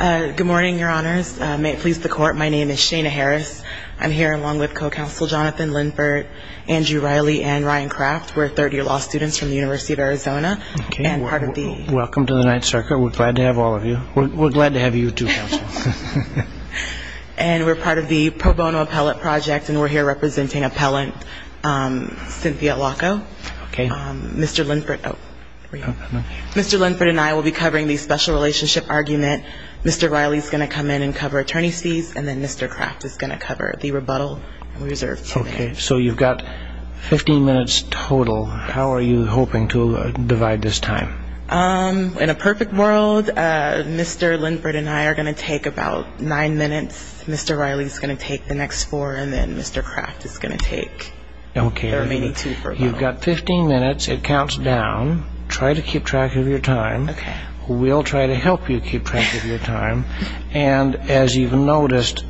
Good morning, Your Honors. May it please the Court, my name is Shana Harris. I'm here along with Co-Counsel Jonathan Linford, Andrew Riley, and Ryan Kraft. We're third-year law students from the University of Arizona and part of the Welcome to the Knight Circle. We're glad to have all of you. We're glad to have you too, Counsel. And we're part of the Pro Bono Appellate Project and we're here representing Appellant Cynthia Allocco. Okay. Mr. Linford and I will be covering the special relationship argument. Mr. Riley is going to come in and cover attorney's fees and then Mr. Kraft is going to cover the rebuttal. Okay, so you've got 15 minutes total. How are you hoping to divide this time? In a perfect world, Mr. Linford and I are going to take about nine minutes. Mr. Riley is going to take the next four and then Mr. Kraft is going to take the remaining two. You've got 15 minutes. It counts down. Try to keep track of your time. We'll try to help you keep track of your time. And as you've noticed,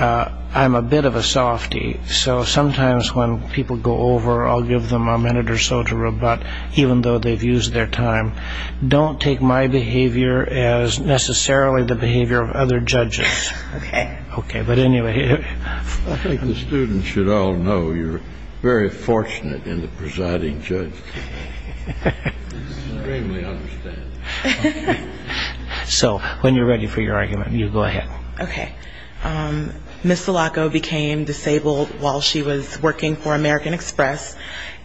I'm a bit of a softy, so sometimes when people go over, I'll give them a minute or so to rebut, even though they've used their time. Don't take my behavior as necessarily the behavior of other judges. Okay. Okay, but anyway. I think the students should all know you're very fortunate in the presiding judge. Extremely understanding. So when you're ready for your argument, you go ahead. Okay. Ms. Allocco became disabled while she was working for American Express,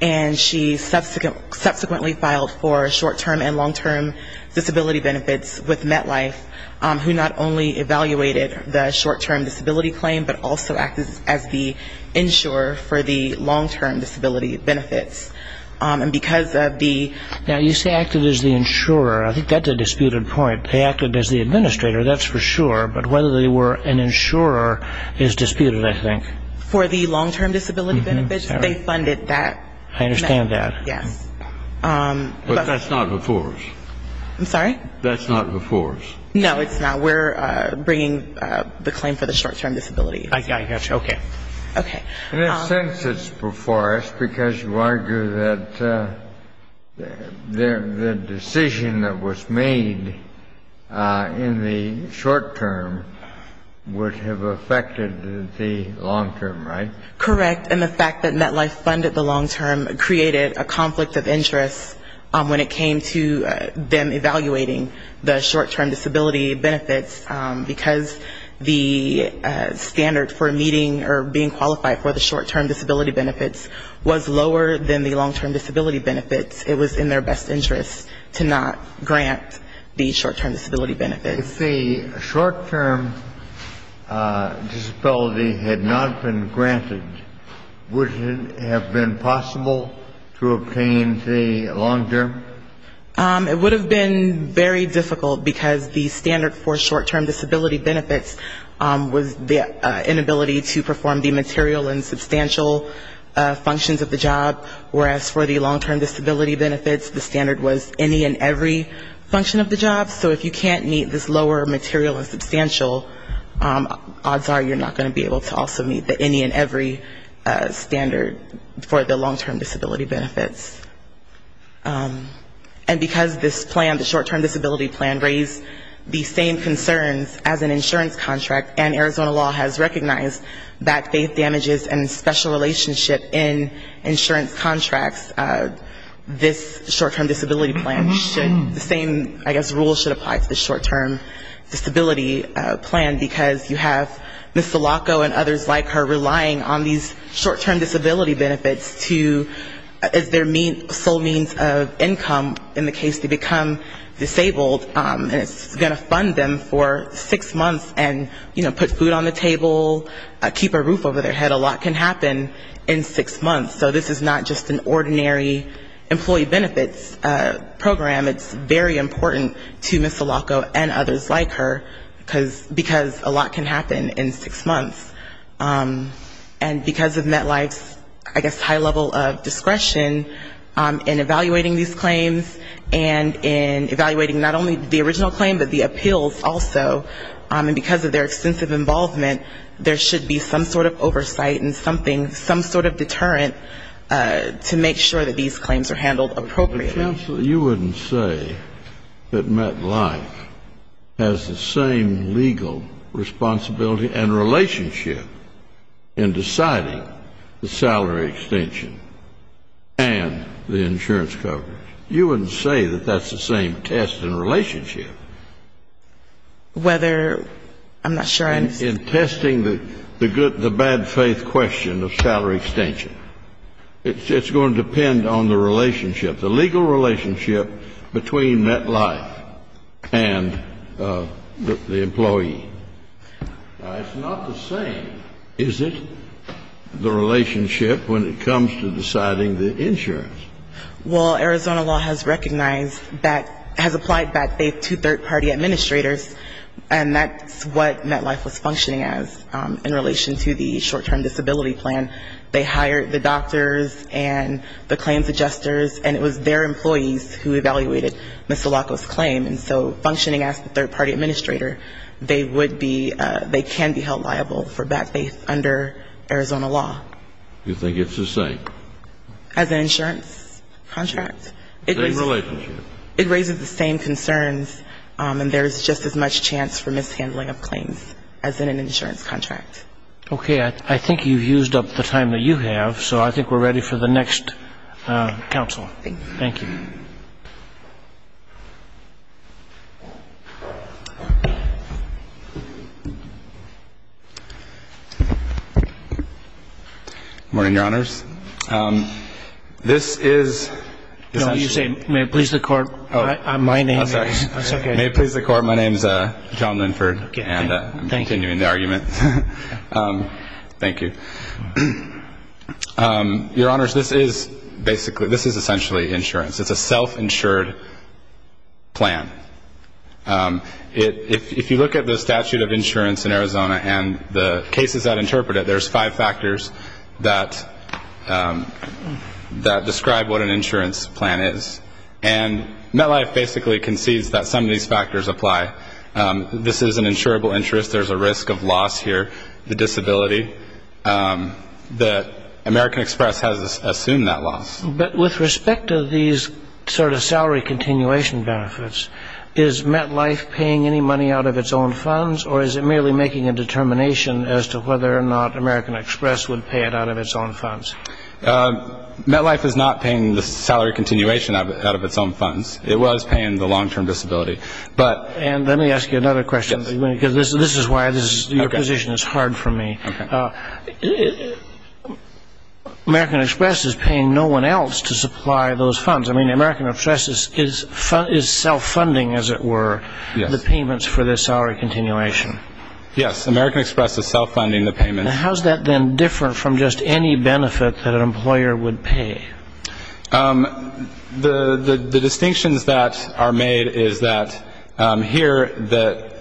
and she subsequently filed for short-term and long-term disability benefits with MetLife, who not only evaluated the short-term disability claim, but also acted as the insurer for the long-term disability benefits. And because of the ñ Now, you say acted as the insurer. I think that's a disputed point. They acted as the administrator, that's for sure, but whether they were an insurer is disputed, I think. For the long-term disability benefits, they funded that. I understand that. Yes. But that's not before us. I'm sorry? That's not before us. No, it's not. We're bringing the claim for the short-term disability. I got you. Okay. Okay. In a sense, it's before us because you argue that the decision that was made in the short-term would have affected the long-term, right? Correct. And the fact that MetLife funded the long-term created a conflict of interest when it came to them evaluating the short-term disability benefits because the standard for meeting or being qualified for the short-term disability benefits was lower than the long-term disability benefits. It was in their best interest to not grant the short-term disability benefits. If the short-term disability had not been granted, would it have been possible to obtain the long-term? It would have been very difficult because the standard for short-term disability benefits was the inability to perform the material and substantial functions of the job, whereas for the long-term disability benefits, the standard was any and every function of the job. So if you can't meet this lower material and substantial, odds are you're not going to be able to also meet the any and every standard for the long-term disability benefits. And because this plan, the short-term disability plan, raised the same concerns as an insurance contract, and Arizona law has recognized that faith damages and special relationship in insurance contracts, this short-term disability plan should, the same, I guess, rules should apply to the short-term disability plan because you have Ms. Sulaco and others like her relying on these short-term disability benefits to, as their sole means of income in the case they become disabled, and it's going to fund them for six months and, you know, put food on the table, keep a roof over their head, a lot can happen in six months. So this is not just an ordinary employee benefits program. It's very important to Ms. Sulaco and others like her because a lot can happen in six months. And because of MetLife's, I guess, high level of discretion in evaluating these claims and in evaluating not only the original claim, but the appeals also, and because of their extensive involvement, there should be some sort of oversight and something, some sort of deterrent to make sure that these claims are handled appropriately. But, Chancellor, you wouldn't say that MetLife has the same legal responsibility and relationship in deciding the salary extension and the insurance coverage. You wouldn't say that that's the same test and relationship. Whether, I'm not sure. In testing the bad faith question of salary extension. It's going to depend on the relationship, the legal relationship between MetLife and the employee. Now, it's not the same, is it, the relationship when it comes to deciding the insurance? Well, Arizona law has recognized, has applied bad faith to third-party administrators, and that's what MetLife was functioning as in relation to the short-term disability plan. They hired the doctors and the claims adjusters, and it was their employees who evaluated Ms. Sulaco's claim. And so functioning as the third-party administrator, they would be, they can be held liable for bad faith under Arizona law. You think it's the same? As an insurance contract. Same relationship. It raises the same concerns, and there's just as much chance for mishandling of claims as in an insurance contract. Okay. I think you've used up the time that you have, so I think we're ready for the next counsel. Thank you. Morning, Your Honors. This is... No, you say, may it please the Court, my name is... May it please the Court, my name is John Linford, and I'm continuing the argument. Thank you. Your Honors, this is basically, this is essentially insurance. It's a self-insured plan. If you look at the statute of insurance in Arizona and the cases that interpret it, there's five factors that describe what an insurance plan is, and MetLife basically concedes that some of these factors apply. This is an insurable interest, there's a risk of loss here, the disability. The American Express has assumed that loss. But with respect to these sort of salary continuation benefits, is MetLife paying any money out of its own funds, or is it merely making a determination as to whether or not American Express would pay it out of its own funds? MetLife is not paying the salary continuation out of its own funds. It was paying the long-term disability. And let me ask you another question, because this is why your position is hard for me. American Express is paying no one else to supply those funds. I mean, American Express is self-funding, as it were, the payments for the salary continuation. Yes, American Express is self-funding the payments. How is that then different from just any benefit that an employer would pay? The distinctions that are made is that here,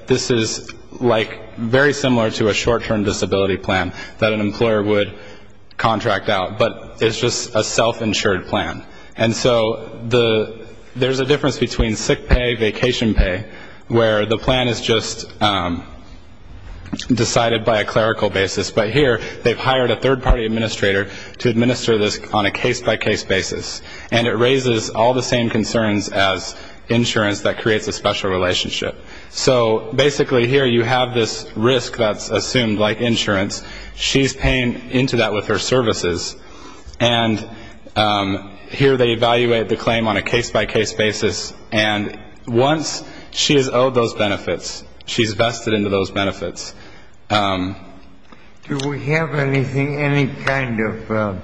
this is like very similar to a short-term disability plan that an employer would contract out, but it's just a self-insured plan. And so there's a difference between sick pay, vacation pay, where the plan is just decided by a clerical basis. But here, they've hired a third-party administrator to administer this on a case-by-case basis. And it raises all the same concerns as insurance that creates a special relationship. So basically, here you have this risk that's assumed, like insurance. She's paying into that with her services. And here they evaluate the claim on a case-by-case basis. And once she is owed those benefits, she's vested into those benefits. Do we have anything, any kind of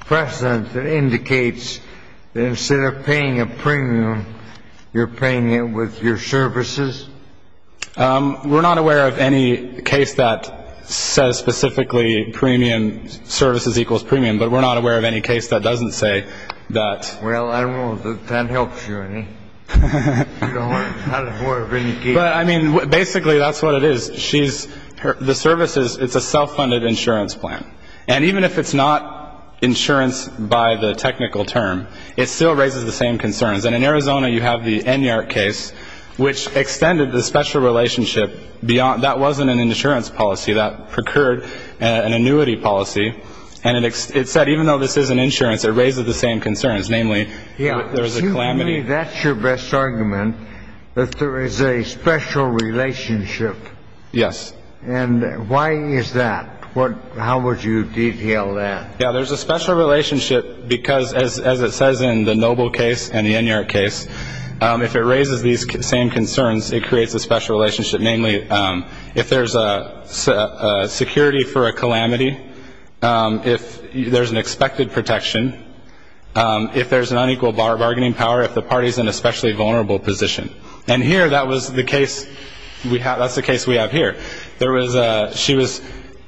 precedent that indicates that instead of paying a premium, you're paying it with your services? We're not aware of any case that says specifically premium services equals premium, but we're not aware of any case that doesn't say that. Well, I don't know if that helps you, Ernie. But, I mean, basically, that's what it is. She's the services. It's a self-funded insurance plan. And even if it's not insurance by the technical term, it still raises the same concerns. And in Arizona, you have the Enyart case, which extended the special relationship. That wasn't an insurance policy. That procured an annuity policy. And it said even though this isn't insurance, it raises the same concerns, namely, there's a calamity. Yeah, to me, that's your best argument, that there is a special relationship. Yes. And why is that? How would you detail that? Yeah, there's a special relationship because, as it says in the Noble case and the Enyart case, if it raises these same concerns, it creates a special relationship, namely, if there's a security for a calamity, if there's an expected protection, if there's an unequal bargaining power, if the party's in an especially vulnerable position. And here, that was the case. That's the case we have here. She was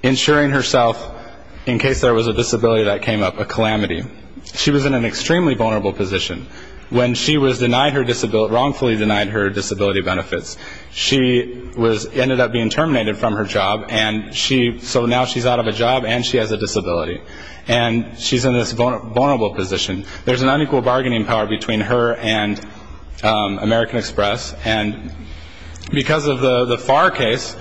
insuring herself in case there was a disability that came up, a calamity. She was in an extremely vulnerable position. When she was wrongfully denied her disability benefits, she ended up being terminated from her job, and so now she's out of a job and she has a disability. And she's in this vulnerable position. There's an unequal bargaining power between her and American Express. And because of the FAR case,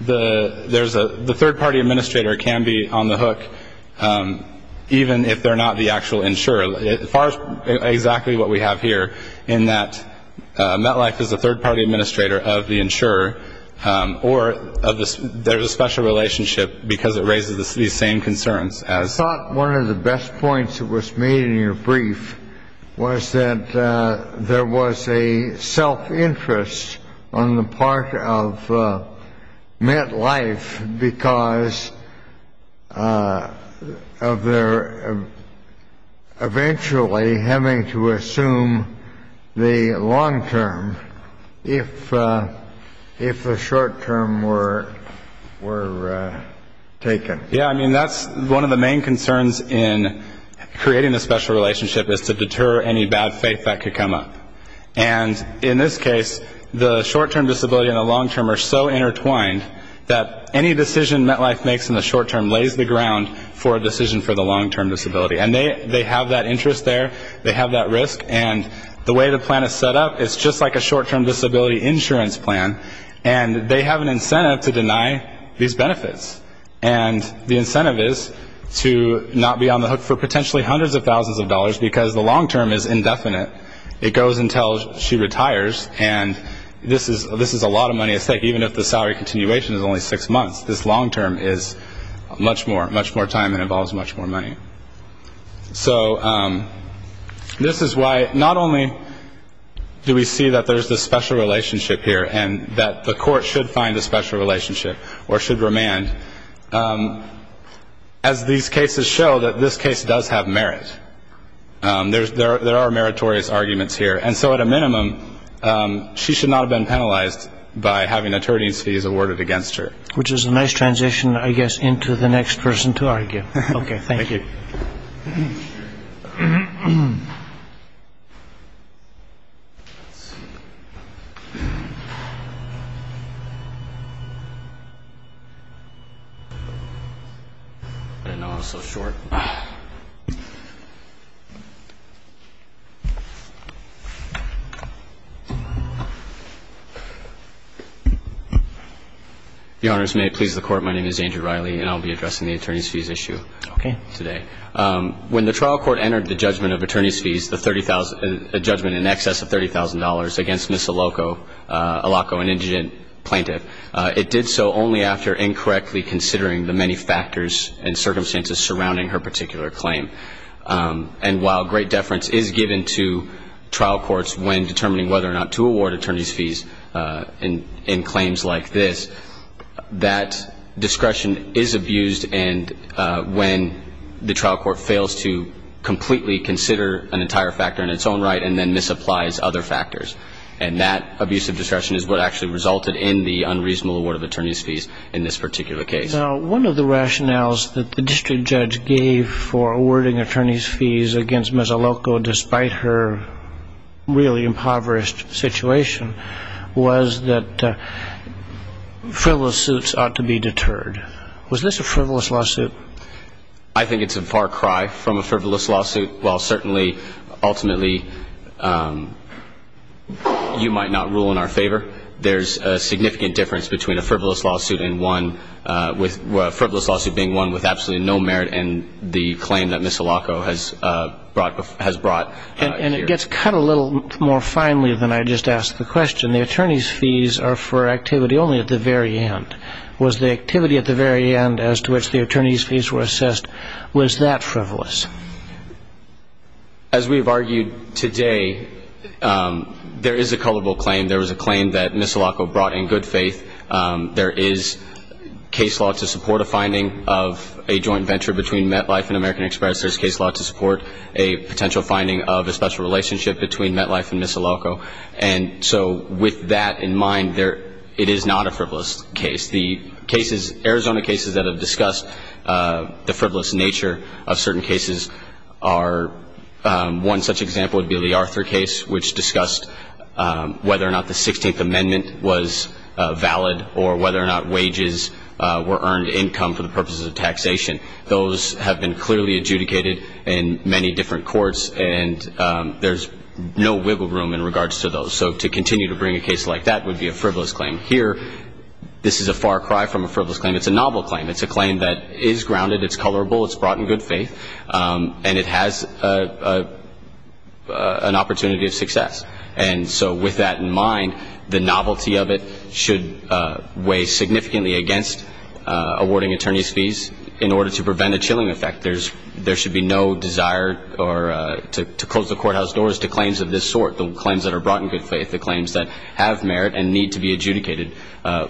the third-party administrator can be on the hook, even if they're not the actual insurer. FAR is exactly what we have here in that MetLife is a third-party administrator of the insurer, or there's a special relationship because it raises these same concerns. I thought one of the best points that was made in your brief was that there was a self-interest on the part of MetLife because of their eventually having to assume the long-term if the short-term were taken. Yeah, I mean, that's one of the main concerns in creating the special relationship, is to deter any bad faith that could come up. And in this case, the short-term disability and the long-term are so intertwined that any decision MetLife makes in the short-term lays the ground for a decision for the long-term disability. And they have that interest there, they have that risk, and the way the plan is set up, it's just like a short-term disability insurance plan, and they have an incentive to deny these benefits. And the incentive is to not be on the hook for potentially hundreds of thousands of dollars because the long-term is indefinite. It goes until she retires, and this is a lot of money at stake. Even if the salary continuation is only six months, this long-term is much more time and involves much more money. So this is why not only do we see that there's this special relationship here and that the court should find a special relationship or should remand, as these cases show that this case does have merit. There are meritorious arguments here. And so at a minimum, she should not have been penalized by having attorney's fees awarded against her. Which is a nice transition, I guess, into the next person to argue. Okay, thank you. Thank you. I didn't know I was so short. Your Honors, may it please the Court, my name is Andrew Riley, and I'll be addressing the attorney's fees issue today. When the trial court entered the judgment of attorney's fees, a judgment in excess of $30,000 against Ms. Aloko, an indigent plaintiff, it did so only after incorrectly considering the many factors and circumstances surrounding her particular claim. And while great deference is given to trial courts when determining whether or not to award attorney's fees in claims like this, that discretion is abused when the trial court fails to completely consider an entire factor in its own right and then misapplies other factors. And that abusive discretion is what actually resulted in the unreasonable award of attorney's fees in this particular case. Now, one of the rationales that the district judge gave for awarding attorney's fees against Ms. Aloko, despite her really impoverished situation, was that frivolous suits ought to be deterred. Was this a frivolous lawsuit? I think it's a far cry from a frivolous lawsuit. While certainly, ultimately, you might not rule in our favor, there's a significant difference between a frivolous lawsuit being one with absolutely no merit and the claim that Ms. Aloko has brought here. And it gets cut a little more finely than I just asked the question. The attorney's fees are for activity only at the very end. Was the activity at the very end as to which the attorney's fees were assessed, was that frivolous? As we've argued today, there is a culpable claim. There was a claim that Ms. Aloko brought in good faith. There is case law to support a finding of a joint venture between MetLife and American Express. There's case law to support a potential finding of a special relationship between MetLife and Ms. Aloko. And so with that in mind, it is not a frivolous case. The Arizona cases that have discussed the frivolous nature of certain cases are, one such example would be the Arthur case, which discussed whether or not the 16th Amendment was valid or whether or not wages were earned income for the purposes of taxation. Those have been clearly adjudicated in many different courts, and there's no wiggle room in regards to those. So to continue to bring a case like that would be a frivolous claim. Here, this is a far cry from a frivolous claim. It's a novel claim. It's a claim that is grounded, it's colorable, it's brought in good faith, and it has an opportunity of success. And so with that in mind, the novelty of it should weigh significantly against awarding attorney's fees. In order to prevent a chilling effect, there should be no desire to close the courthouse doors to claims of this sort, the claims that are brought in good faith, the claims that have merit and need to be adjudicated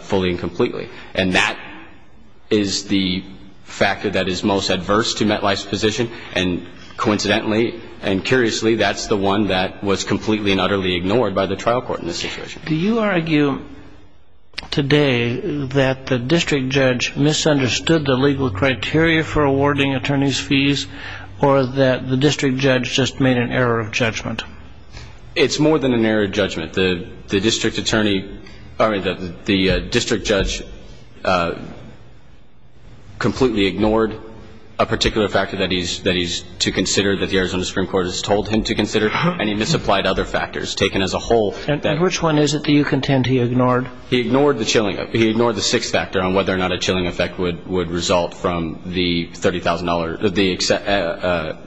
fully and completely. And that is the factor that is most adverse to MetLife's position. And coincidentally and curiously, that's the one that was completely and utterly ignored by the trial court in this situation. Do you argue today that the district judge misunderstood the legal criteria for awarding attorney's fees or that the district judge just made an error of judgment? It's more than an error of judgment. The district judge completely ignored a particular factor that he's to consider, that the Arizona Supreme Court has told him to consider, and he misapplied other factors taken as a whole. And which one is it that you contend he ignored? He ignored the chilling effect. He ignored the sixth factor on whether or not a chilling effect would result from the $30,000,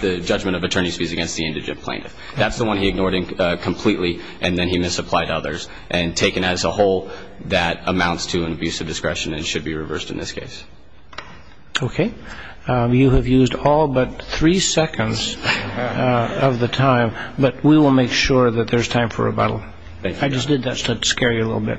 the judgment of attorney's fees against the indigent plaintiff. That's the one he ignored completely, and then he misapplied others, and taken as a whole that amounts to an abuse of discretion and should be reversed in this case. Okay. You have used all but three seconds of the time, but we will make sure that there's time for rebuttal. I just did that to scare you a little bit.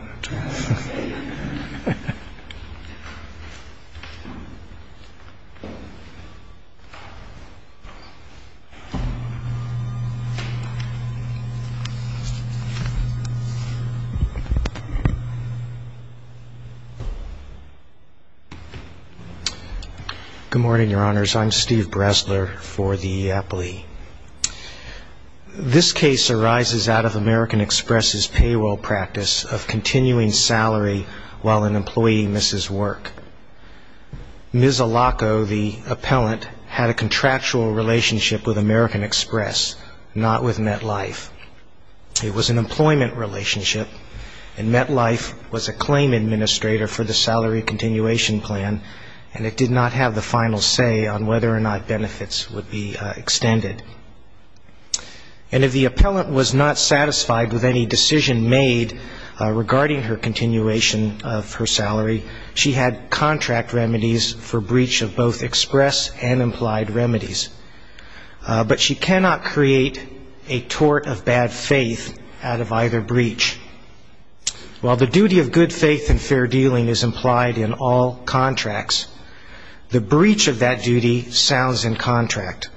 Good morning, Your Honors. I'm Steve Bressler for the EEOPLE. This case arises out of American Express's payroll practice of continuing salary while an employee misses work. Ms. Alaco, the appellant, had a contractual relationship with American Express, not with MetLife. It was an employment relationship, and MetLife was a claim administrator for the salary continuation plan, and it did not have the final say on whether or not benefits would be extended. And if the appellant was not satisfied with any decision made regarding her continuation of her salary, she had contract remedies for breach of both Express and implied remedies. But she cannot create a tort of bad faith out of either breach. While the duty of good faith and fair dealing is implied in all contracts, the breach of that duty sounds in contract.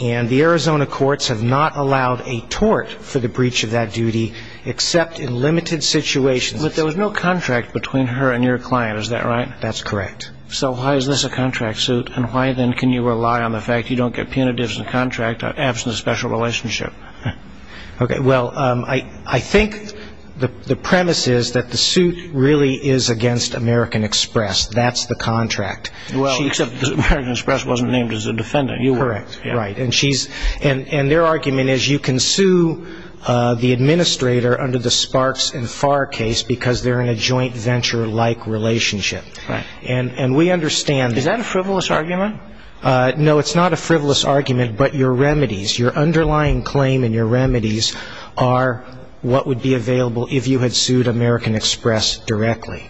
And the Arizona courts have not allowed a tort for the breach of that duty, except in limited situations. But there was no contract between her and your client, is that right? That's correct. So why is this a contract suit, and why, then, can you rely on the fact you don't get punitives in the contract, absent a special relationship? Okay. Well, I think the premise is that the suit really is against American Express. That's the contract. Well, except American Express wasn't named as a defendant. Correct. Right. And their argument is you can sue the administrator under the Sparks and Farr case because they're in a joint venture-like relationship. Right. And we understand that. Is that a frivolous argument? No, it's not a frivolous argument, but your remedies, your underlying claim and your remedies, are what would be available if you had sued American Express directly.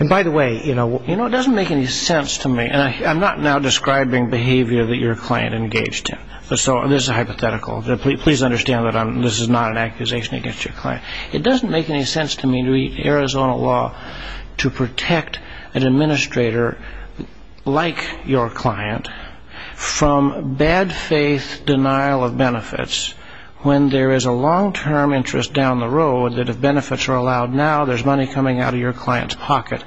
And by the way, you know, it doesn't make any sense to me, and I'm not now describing behavior that your client engaged in. So this is hypothetical. Please understand that this is not an accusation against your client. It doesn't make any sense to me to read Arizona law to protect an administrator like your client from bad faith denial of benefits when there is a long-term interest down the road that if benefits are allowed now, there's money coming out of your client's pocket.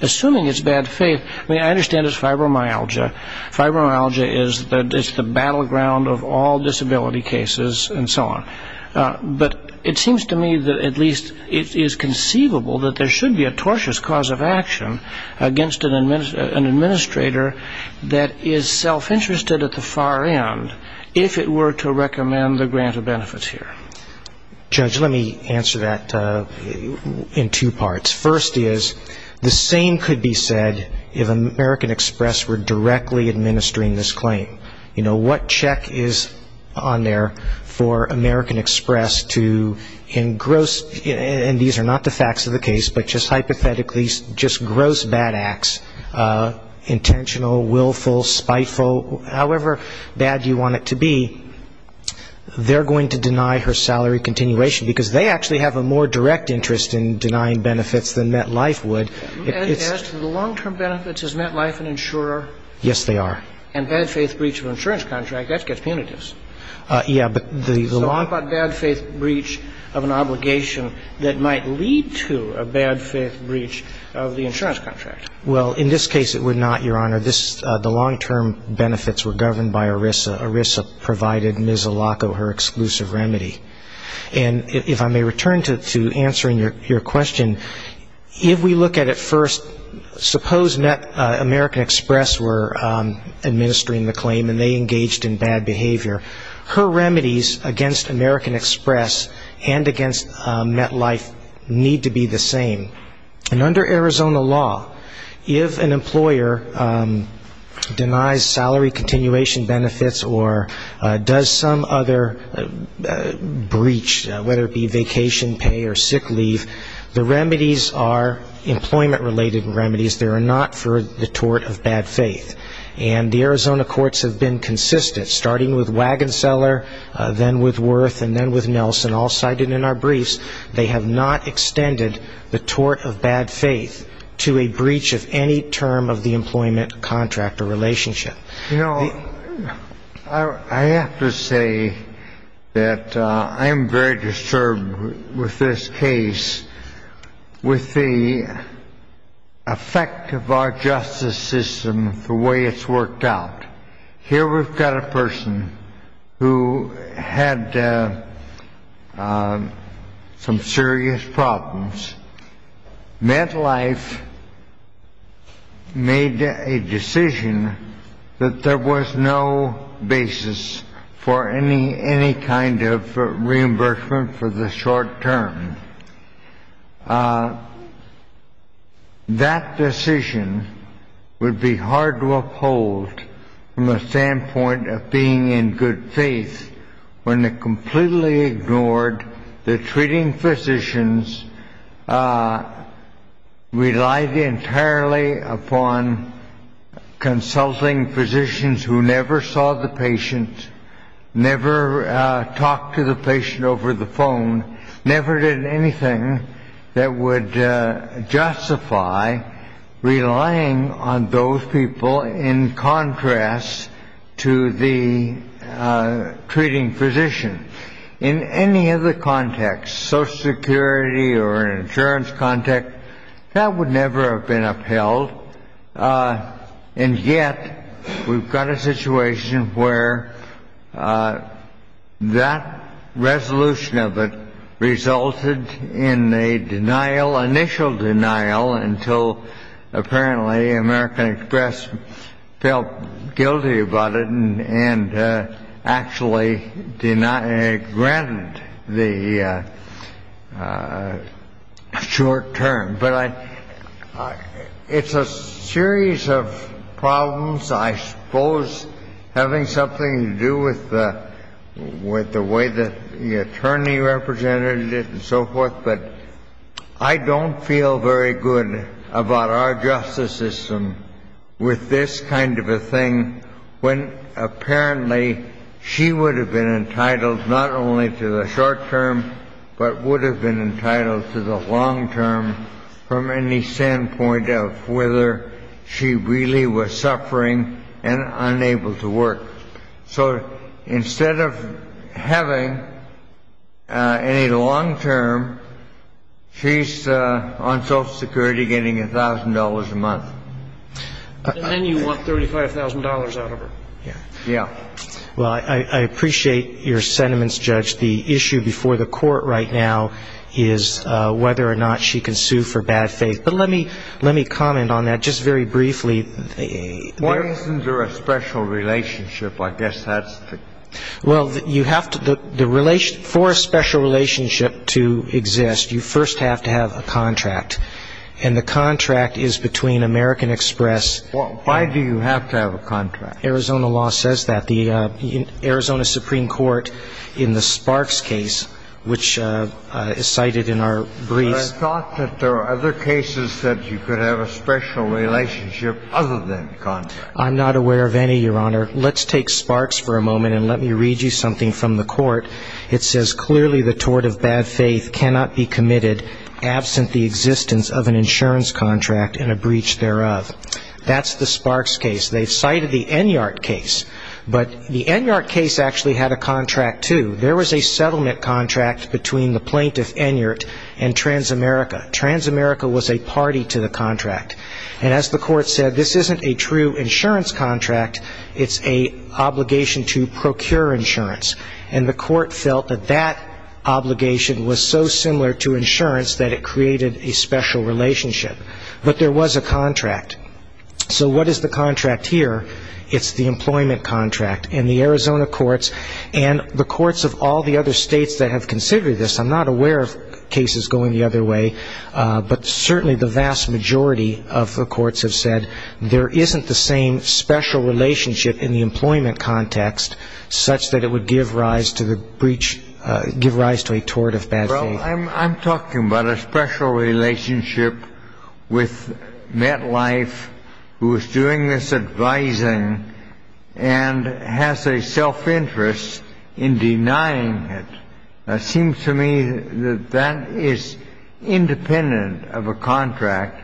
Assuming it's bad faith, I mean, I understand it's fibromyalgia. Fibromyalgia is the battleground of all disability cases and so on. But it seems to me that at least it is conceivable that there should be a tortious cause of action against an administrator that is self-interested at the far end if it were to recommend the grant of benefits here. Judge, let me answer that in two parts. First is the same could be said if American Express were directly administering this claim. You know, what check is on there for American Express to, in gross and these are not the facts of the case, but just hypothetically just gross bad acts, intentional, willful, spiteful, however bad you want it to be, they're going to deny her salary continuation because they actually have a more direct interest in denying benefits than MetLife would. As to the long-term benefits, is MetLife an insurer? Yes, they are. And bad faith breach of an insurance contract, that gets punitive. Yes, but the long- So what about bad faith breach of an obligation that might lead to a bad faith breach of the insurance contract? Well, in this case it would not, Your Honor. The long-term benefits were governed by ERISA. ERISA provided Ms. Alaco her exclusive remedy. And if I may return to answering your question, if we look at it first, suppose American Express were administering the claim and they engaged in bad behavior, her remedies against American Express and against MetLife need to be the same. And under Arizona law, if an employer denies salary continuation benefits or does some other breach, whether it be vacation pay or sick leave, the remedies are employment-related remedies. They are not for the tort of bad faith. And the Arizona courts have been consistent, starting with Wagenseller, then with Wirth, and then with Nelson, all cited in our briefs. They have not extended the tort of bad faith to a breach of any term of the employment-contractor relationship. You know, I have to say that I am very disturbed with this case, with the effect of our justice system, the way it's worked out. Here we've got a person who had some serious problems. MetLife made a decision that there was no basis for any kind of reimbursement for the short term. That decision would be hard to uphold from the standpoint of being in good faith when it completely ignored that treating physicians relied entirely upon consulting physicians who never saw the patient, never talked to the patient over the phone, never did anything that would justify relying on those people in contrast to the treating physician. In any other context, Social Security or an insurance context, that would never have been upheld. And yet, we've got a situation where that resolution of it resulted in a denial, initial denial, until apparently American Express felt guilty about it and actually granted the short term. But it's a series of problems, I suppose, having something to do with the way that the attorney represented it and so forth. But I don't feel very good about our justice system with this kind of a thing when apparently she would have been entitled not only to the short term but would have been entitled to the long term from any standpoint of whether she really was suffering and unable to work. So instead of having any long term, she's on Social Security getting $1,000 a month. And then you want $35,000 out of her. Yeah. Well, I appreciate your sentiments, Judge. The issue before the court right now is whether or not she can sue for bad faith. But let me comment on that just very briefly. Why isn't there a special relationship? I guess that's the question. Well, for a special relationship to exist, you first have to have a contract. And the contract is between American Express and- Well, why do you have to have a contract? Arizona law says that. The Arizona Supreme Court in the Sparks case, which is cited in our briefs- Well, I thought that there are other cases that you could have a special relationship other than contract. I'm not aware of any, Your Honor. Let's take Sparks for a moment and let me read you something from the court. It says, That's the Sparks case. They've cited the Enyart case. But the Enyart case actually had a contract, too. There was a settlement contract between the plaintiff, Enyart, and Transamerica. Transamerica was a party to the contract. And as the court said, this isn't a true insurance contract. It's an obligation to procure insurance. And the court felt that that obligation was so similar to insurance that it created a special relationship. But there was a contract. So what is the contract here? It's the employment contract. And the Arizona courts and the courts of all the other states that have considered this, I'm not aware of cases going the other way, but certainly the vast majority of the courts have said there isn't the same special relationship in the employment context such that it would give rise to a tort of bad faith. I'm talking about a special relationship with MetLife, who is doing this advising and has a self-interest in denying it. It seems to me that that is independent of a contract,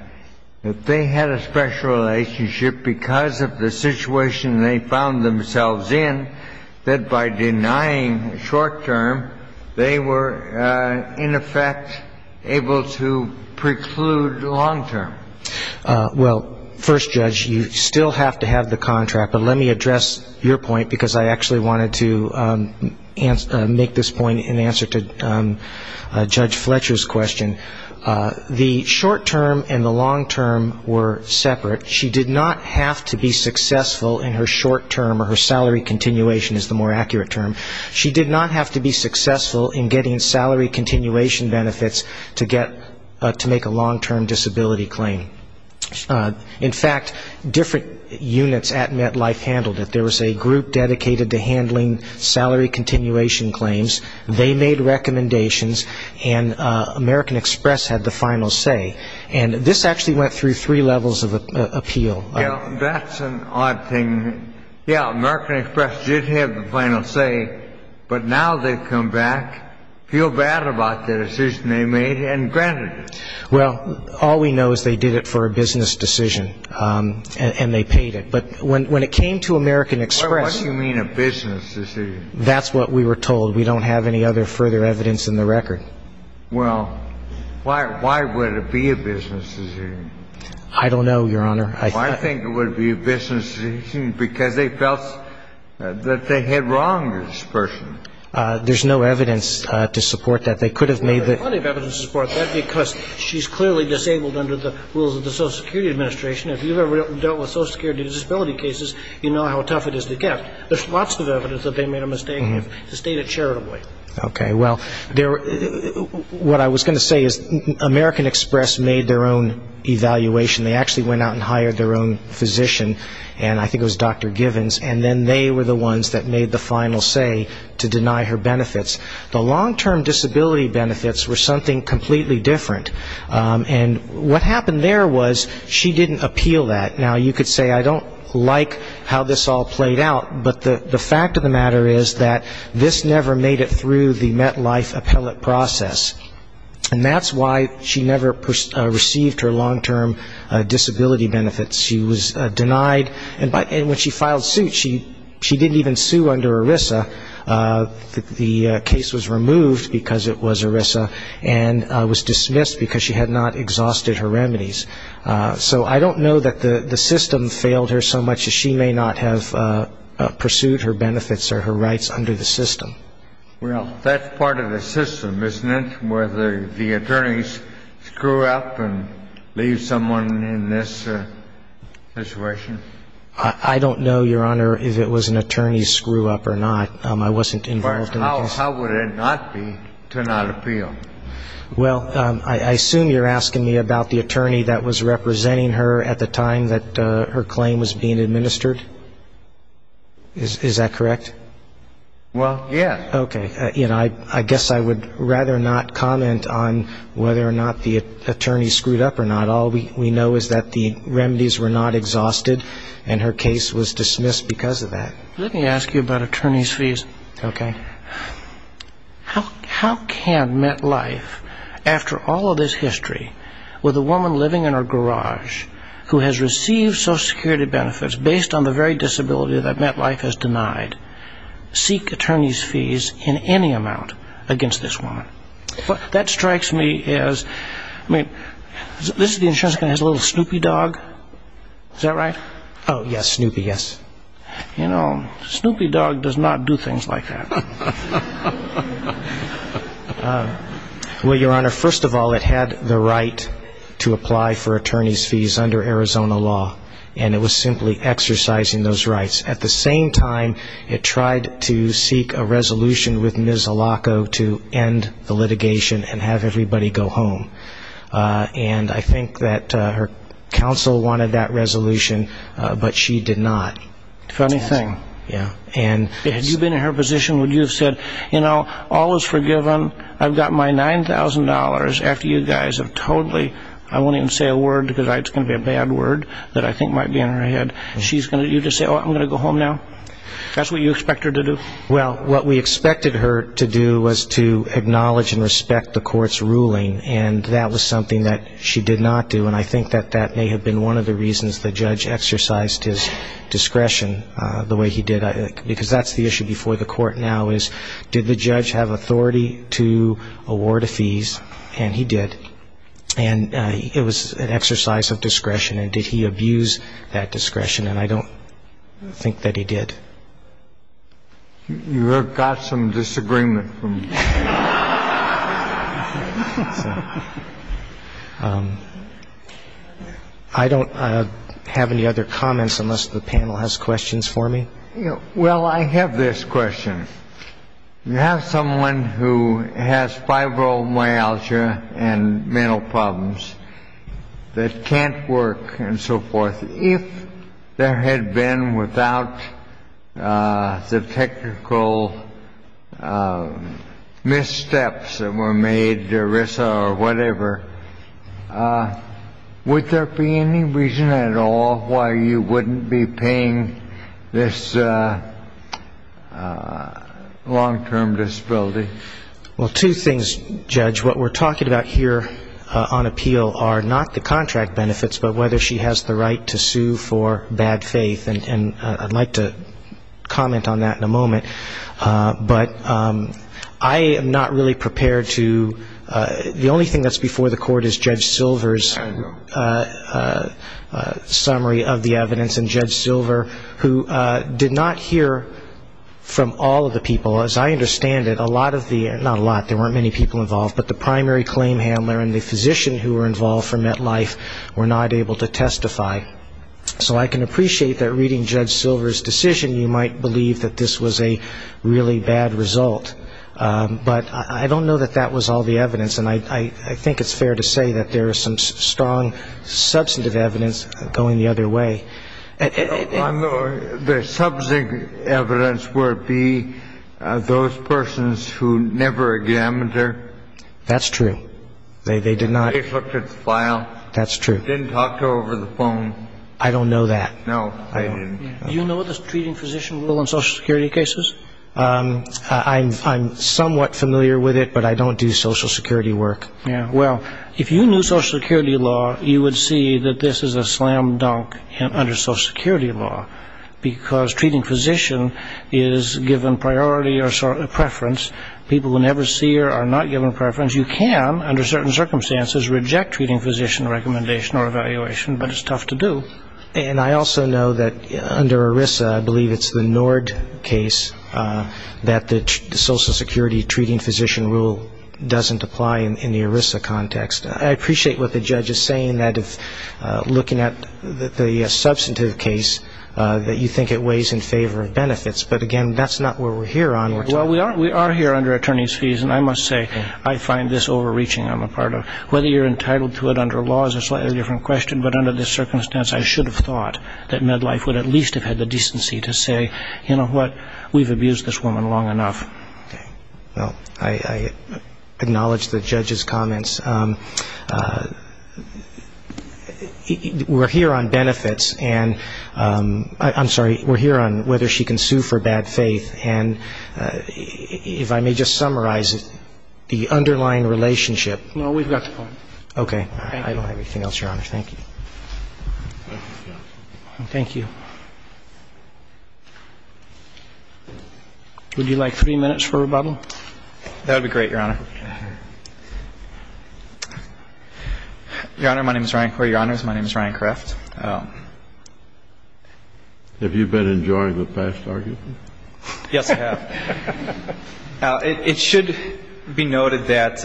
that they had a special relationship because of the situation they found themselves in, that by denying short-term, they were, in effect, able to preclude long-term. Well, first, Judge, you still have to have the contract. But let me address your point because I actually wanted to make this point in answer to Judge Fletcher's question. The short-term and the long-term were separate. She did not have to be successful in her short-term, or her salary continuation is the more accurate term. She did not have to be successful in getting salary continuation benefits to make a long-term disability claim. In fact, different units at MetLife handled it. There was a group dedicated to handling salary continuation claims. They made recommendations, and American Express had the final say. And this actually went through three levels of appeal. Yeah, that's an odd thing. Yeah, American Express did have the final say, but now they've come back, feel bad about the decision they made, and granted it. Well, all we know is they did it for a business decision, and they paid it. But when it came to American Express ñ What do you mean a business decision? That's what we were told. We don't have any other further evidence in the record. Well, why would it be a business decision? I don't know, Your Honor. I think it would be a business decision because they felt that they had wronged this person. There's no evidence to support that. They could have made the ñ There's plenty of evidence to support that because she's clearly disabled under the rules of the Social Security Administration. If you've ever dealt with Social Security disability cases, you know how tough it is to get. There's lots of evidence that they made a mistake and have stated charitably. Okay. Well, what I was going to say is American Express made their own evaluation. They actually went out and hired their own physician, and I think it was Dr. Givens, and then they were the ones that made the final say to deny her benefits. The long-term disability benefits were something completely different. And what happened there was she didn't appeal that. Now, you could say I don't like how this all played out, but the fact of the matter is that this never made it through the MetLife appellate process. And that's why she never received her long-term disability benefits. She was denied. And when she filed suit, she didn't even sue under ERISA. The case was removed because it was ERISA and was dismissed because she had not exhausted her remedies. So I don't know that the system failed her so much as she may not have pursued her benefits or her rights under the system. Well, that's part of the system, isn't it, where the attorneys screw up and leave someone in this situation? I don't know, Your Honor, if it was an attorney screw-up or not. I wasn't involved in the case. But how would it not be to not appeal? Well, I assume you're asking me about the attorney that was representing her at the time that her claim was being administered. Is that correct? Well, yes. Okay. I guess I would rather not comment on whether or not the attorney screwed up or not. All we know is that the remedies were not exhausted, and her case was dismissed because of that. Let me ask you about attorney's fees. Okay. How can MetLife, after all of this history, with a woman living in her garage, who has received Social Security benefits based on the very disability that MetLife has denied, seek attorney's fees in any amount against this woman? What that strikes me as, I mean, this is the insurance company that has a little Snoopy dog. Is that right? Oh, yes, Snoopy, yes. You know, Snoopy dog does not do things like that. Well, Your Honor, first of all, it had the right to apply for attorney's fees under Arizona law, and it was simply exercising those rights. At the same time, it tried to seek a resolution with Ms. Alaco to end the litigation and have everybody go home. And I think that her counsel wanted that resolution, but she did not. Funny thing. Had you been in her position, would you have said, you know, all is forgiven, I've got my $9,000 after you guys have totally, I won't even say a word because it's going to be a bad word that I think might be in her head. You'd just say, oh, I'm going to go home now? That's what you expect her to do? Well, what we expected her to do was to acknowledge and respect the court's ruling, and that was something that she did not do, and I think that that may have been one of the reasons the judge exercised his discretion the way he did, because that's the issue before the court now is, did the judge have authority to award a fees? And he did. And it was an exercise of discretion, and did he abuse that discretion? And I don't think that he did. You have got some disagreement from me. I don't have any other comments unless the panel has questions for me. Well, I have this question. You have someone who has fibromyalgia and mental problems that can't work and so forth. If there had been without the technical missteps that were made, ERISA or whatever, would there be any reason at all why you wouldn't be paying this long-term disability? Well, two things, Judge. What we're talking about here on appeal are not the contract benefits, but whether she has the right to sue for bad faith, and I'd like to comment on that in a moment. But I am not really prepared to the only thing that's before the court is Judge Silver's summary of the evidence, and Judge Silver, who did not hear from all of the people. As I understand it, a lot of the, not a lot, there weren't many people involved, but the primary claim handler and the physician who were involved for MetLife were not able to testify. So I can appreciate that reading Judge Silver's decision, you might believe that this was a really bad result. But I don't know that that was all the evidence, and I think it's fair to say that there is some strong substantive evidence going the other way. The substantive evidence would be those persons who never examined her. That's true. They did not. They looked at the file. That's true. Didn't talk to her over the phone. I don't know that. No, I didn't. Do you know the treating physician rule in Social Security cases? I'm somewhat familiar with it, but I don't do Social Security work. Well, if you knew Social Security law, you would see that this is a slam dunk under Social Security law, because treating physician is given priority or preference. People who never see her are not given preference. You can, under certain circumstances, reject treating physician recommendation or evaluation, but it's tough to do. And I also know that under ERISA, I believe it's the Nord case, that the Social Security treating physician rule doesn't apply in the ERISA context. I appreciate what the judge is saying that if looking at the substantive case, that you think it weighs in favor of benefits, but, again, that's not where we're here on. Well, we are here under attorney's fees, and I must say I find this overreaching on the part of whether you're entitled to it under law is a slightly different question, but under this circumstance I should have thought that MedLife would at least have had the decency to say, you know what, we've abused this woman long enough. Okay. Well, I acknowledge the judge's comments. We're here on benefits, and I'm sorry, we're here on whether she can sue for bad faith, and if I may just summarize the underlying relationship. No, we've got the point. Okay. Thank you. I don't have anything else, Your Honor. Thank you. Would you like three minutes for rebuttal? That would be great, Your Honor. Your Honor, my name is Ryan Corey. Your Honors, my name is Ryan Kreft. Have you been enjoying the past argument? Yes, I have. It should be noted that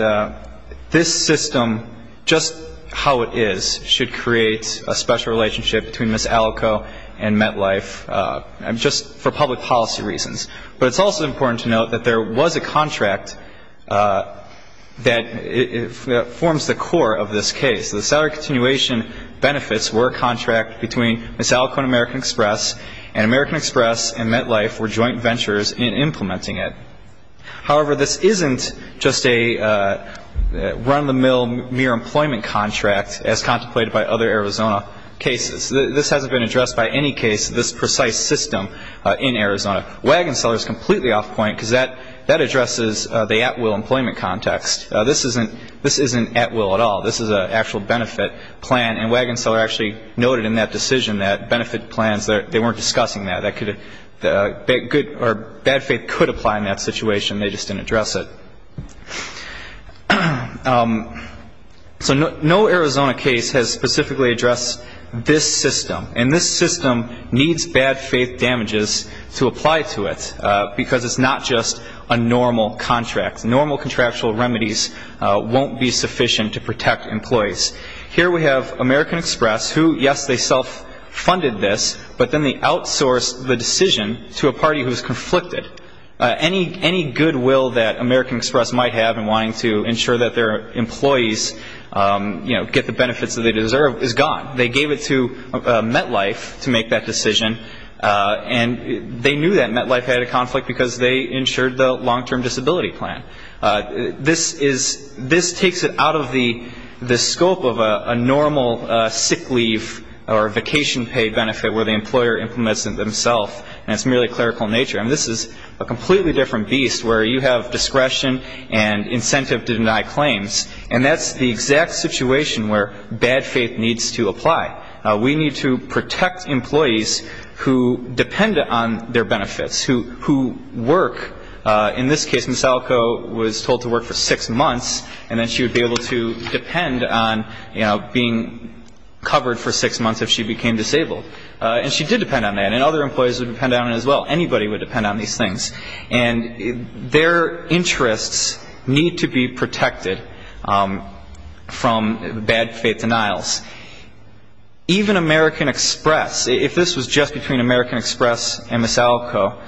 this system, just how it is, should create a system that should create a special relationship between Ms. Alco and MedLife, just for public policy reasons. But it's also important to note that there was a contract that forms the core of this case. The salary continuation benefits were a contract between Ms. Alco and American Express, and American Express and MedLife were joint ventures in implementing it. However, this isn't just a run-of-the-mill mere employment contract as contemplated by other Arizona cases. This hasn't been addressed by any case of this precise system in Arizona. Wagon Seller is completely off point because that addresses the at-will employment context. This isn't at-will at all. This is an actual benefit plan, and Wagon Seller actually noted in that decision that benefit plans, they weren't discussing that. Bad faith could apply in that situation. They just didn't address it. So no Arizona case has specifically addressed this system, and this system needs bad faith damages to apply to it because it's not just a normal contract. Normal contractual remedies won't be sufficient to protect employees. Here we have American Express who, yes, they self-funded this, but then they outsourced the decision to a party who was conflicted. Any goodwill that American Express might have in wanting to ensure that their employees, you know, get the benefits that they deserve is gone. They gave it to MedLife to make that decision, and they knew that MedLife had a conflict because they insured the long-term disability plan. This takes it out of the scope of a normal sick leave or vacation pay benefit where the employer implements it themselves, and it's merely clerical in nature. I mean, this is a completely different beast where you have discretion and incentive to deny claims, and that's the exact situation where bad faith needs to apply. We need to protect employees who depend on their benefits, who work, in this case, Ms. Alko was told to work for six months, and then she would be able to depend on being covered for six months if she became disabled. And she did depend on that, and other employees would depend on it as well. Anybody would depend on these things. And their interests need to be protected from bad faith denials. Even American Express, if this was just between American Express and Ms. Alko,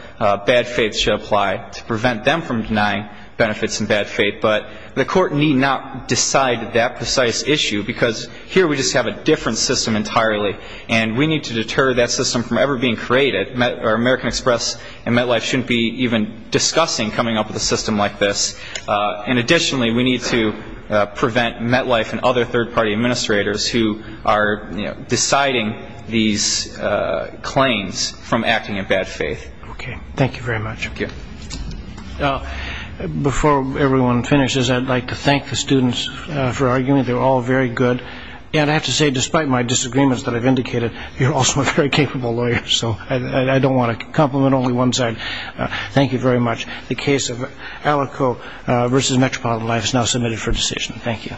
bad faith should apply to prevent them from denying benefits and bad faith. But the court need not decide that precise issue, because here we just have a different system entirely, and we need to deter that system from ever being created. American Express and MedLife shouldn't be even discussing coming up with a system like this. And additionally, we need to prevent MedLife and other third-party administrators who are deciding these claims from acting in bad faith. Okay. Thank you very much. Before everyone finishes, I'd like to thank the students for arguing. They were all very good. And I have to say, despite my disagreements that I've indicated, you're also a very capable lawyer, so I don't want to compliment only one side. Thank you very much. The case of Alko v. Metropolitan Life is now submitted for decision. Thank you.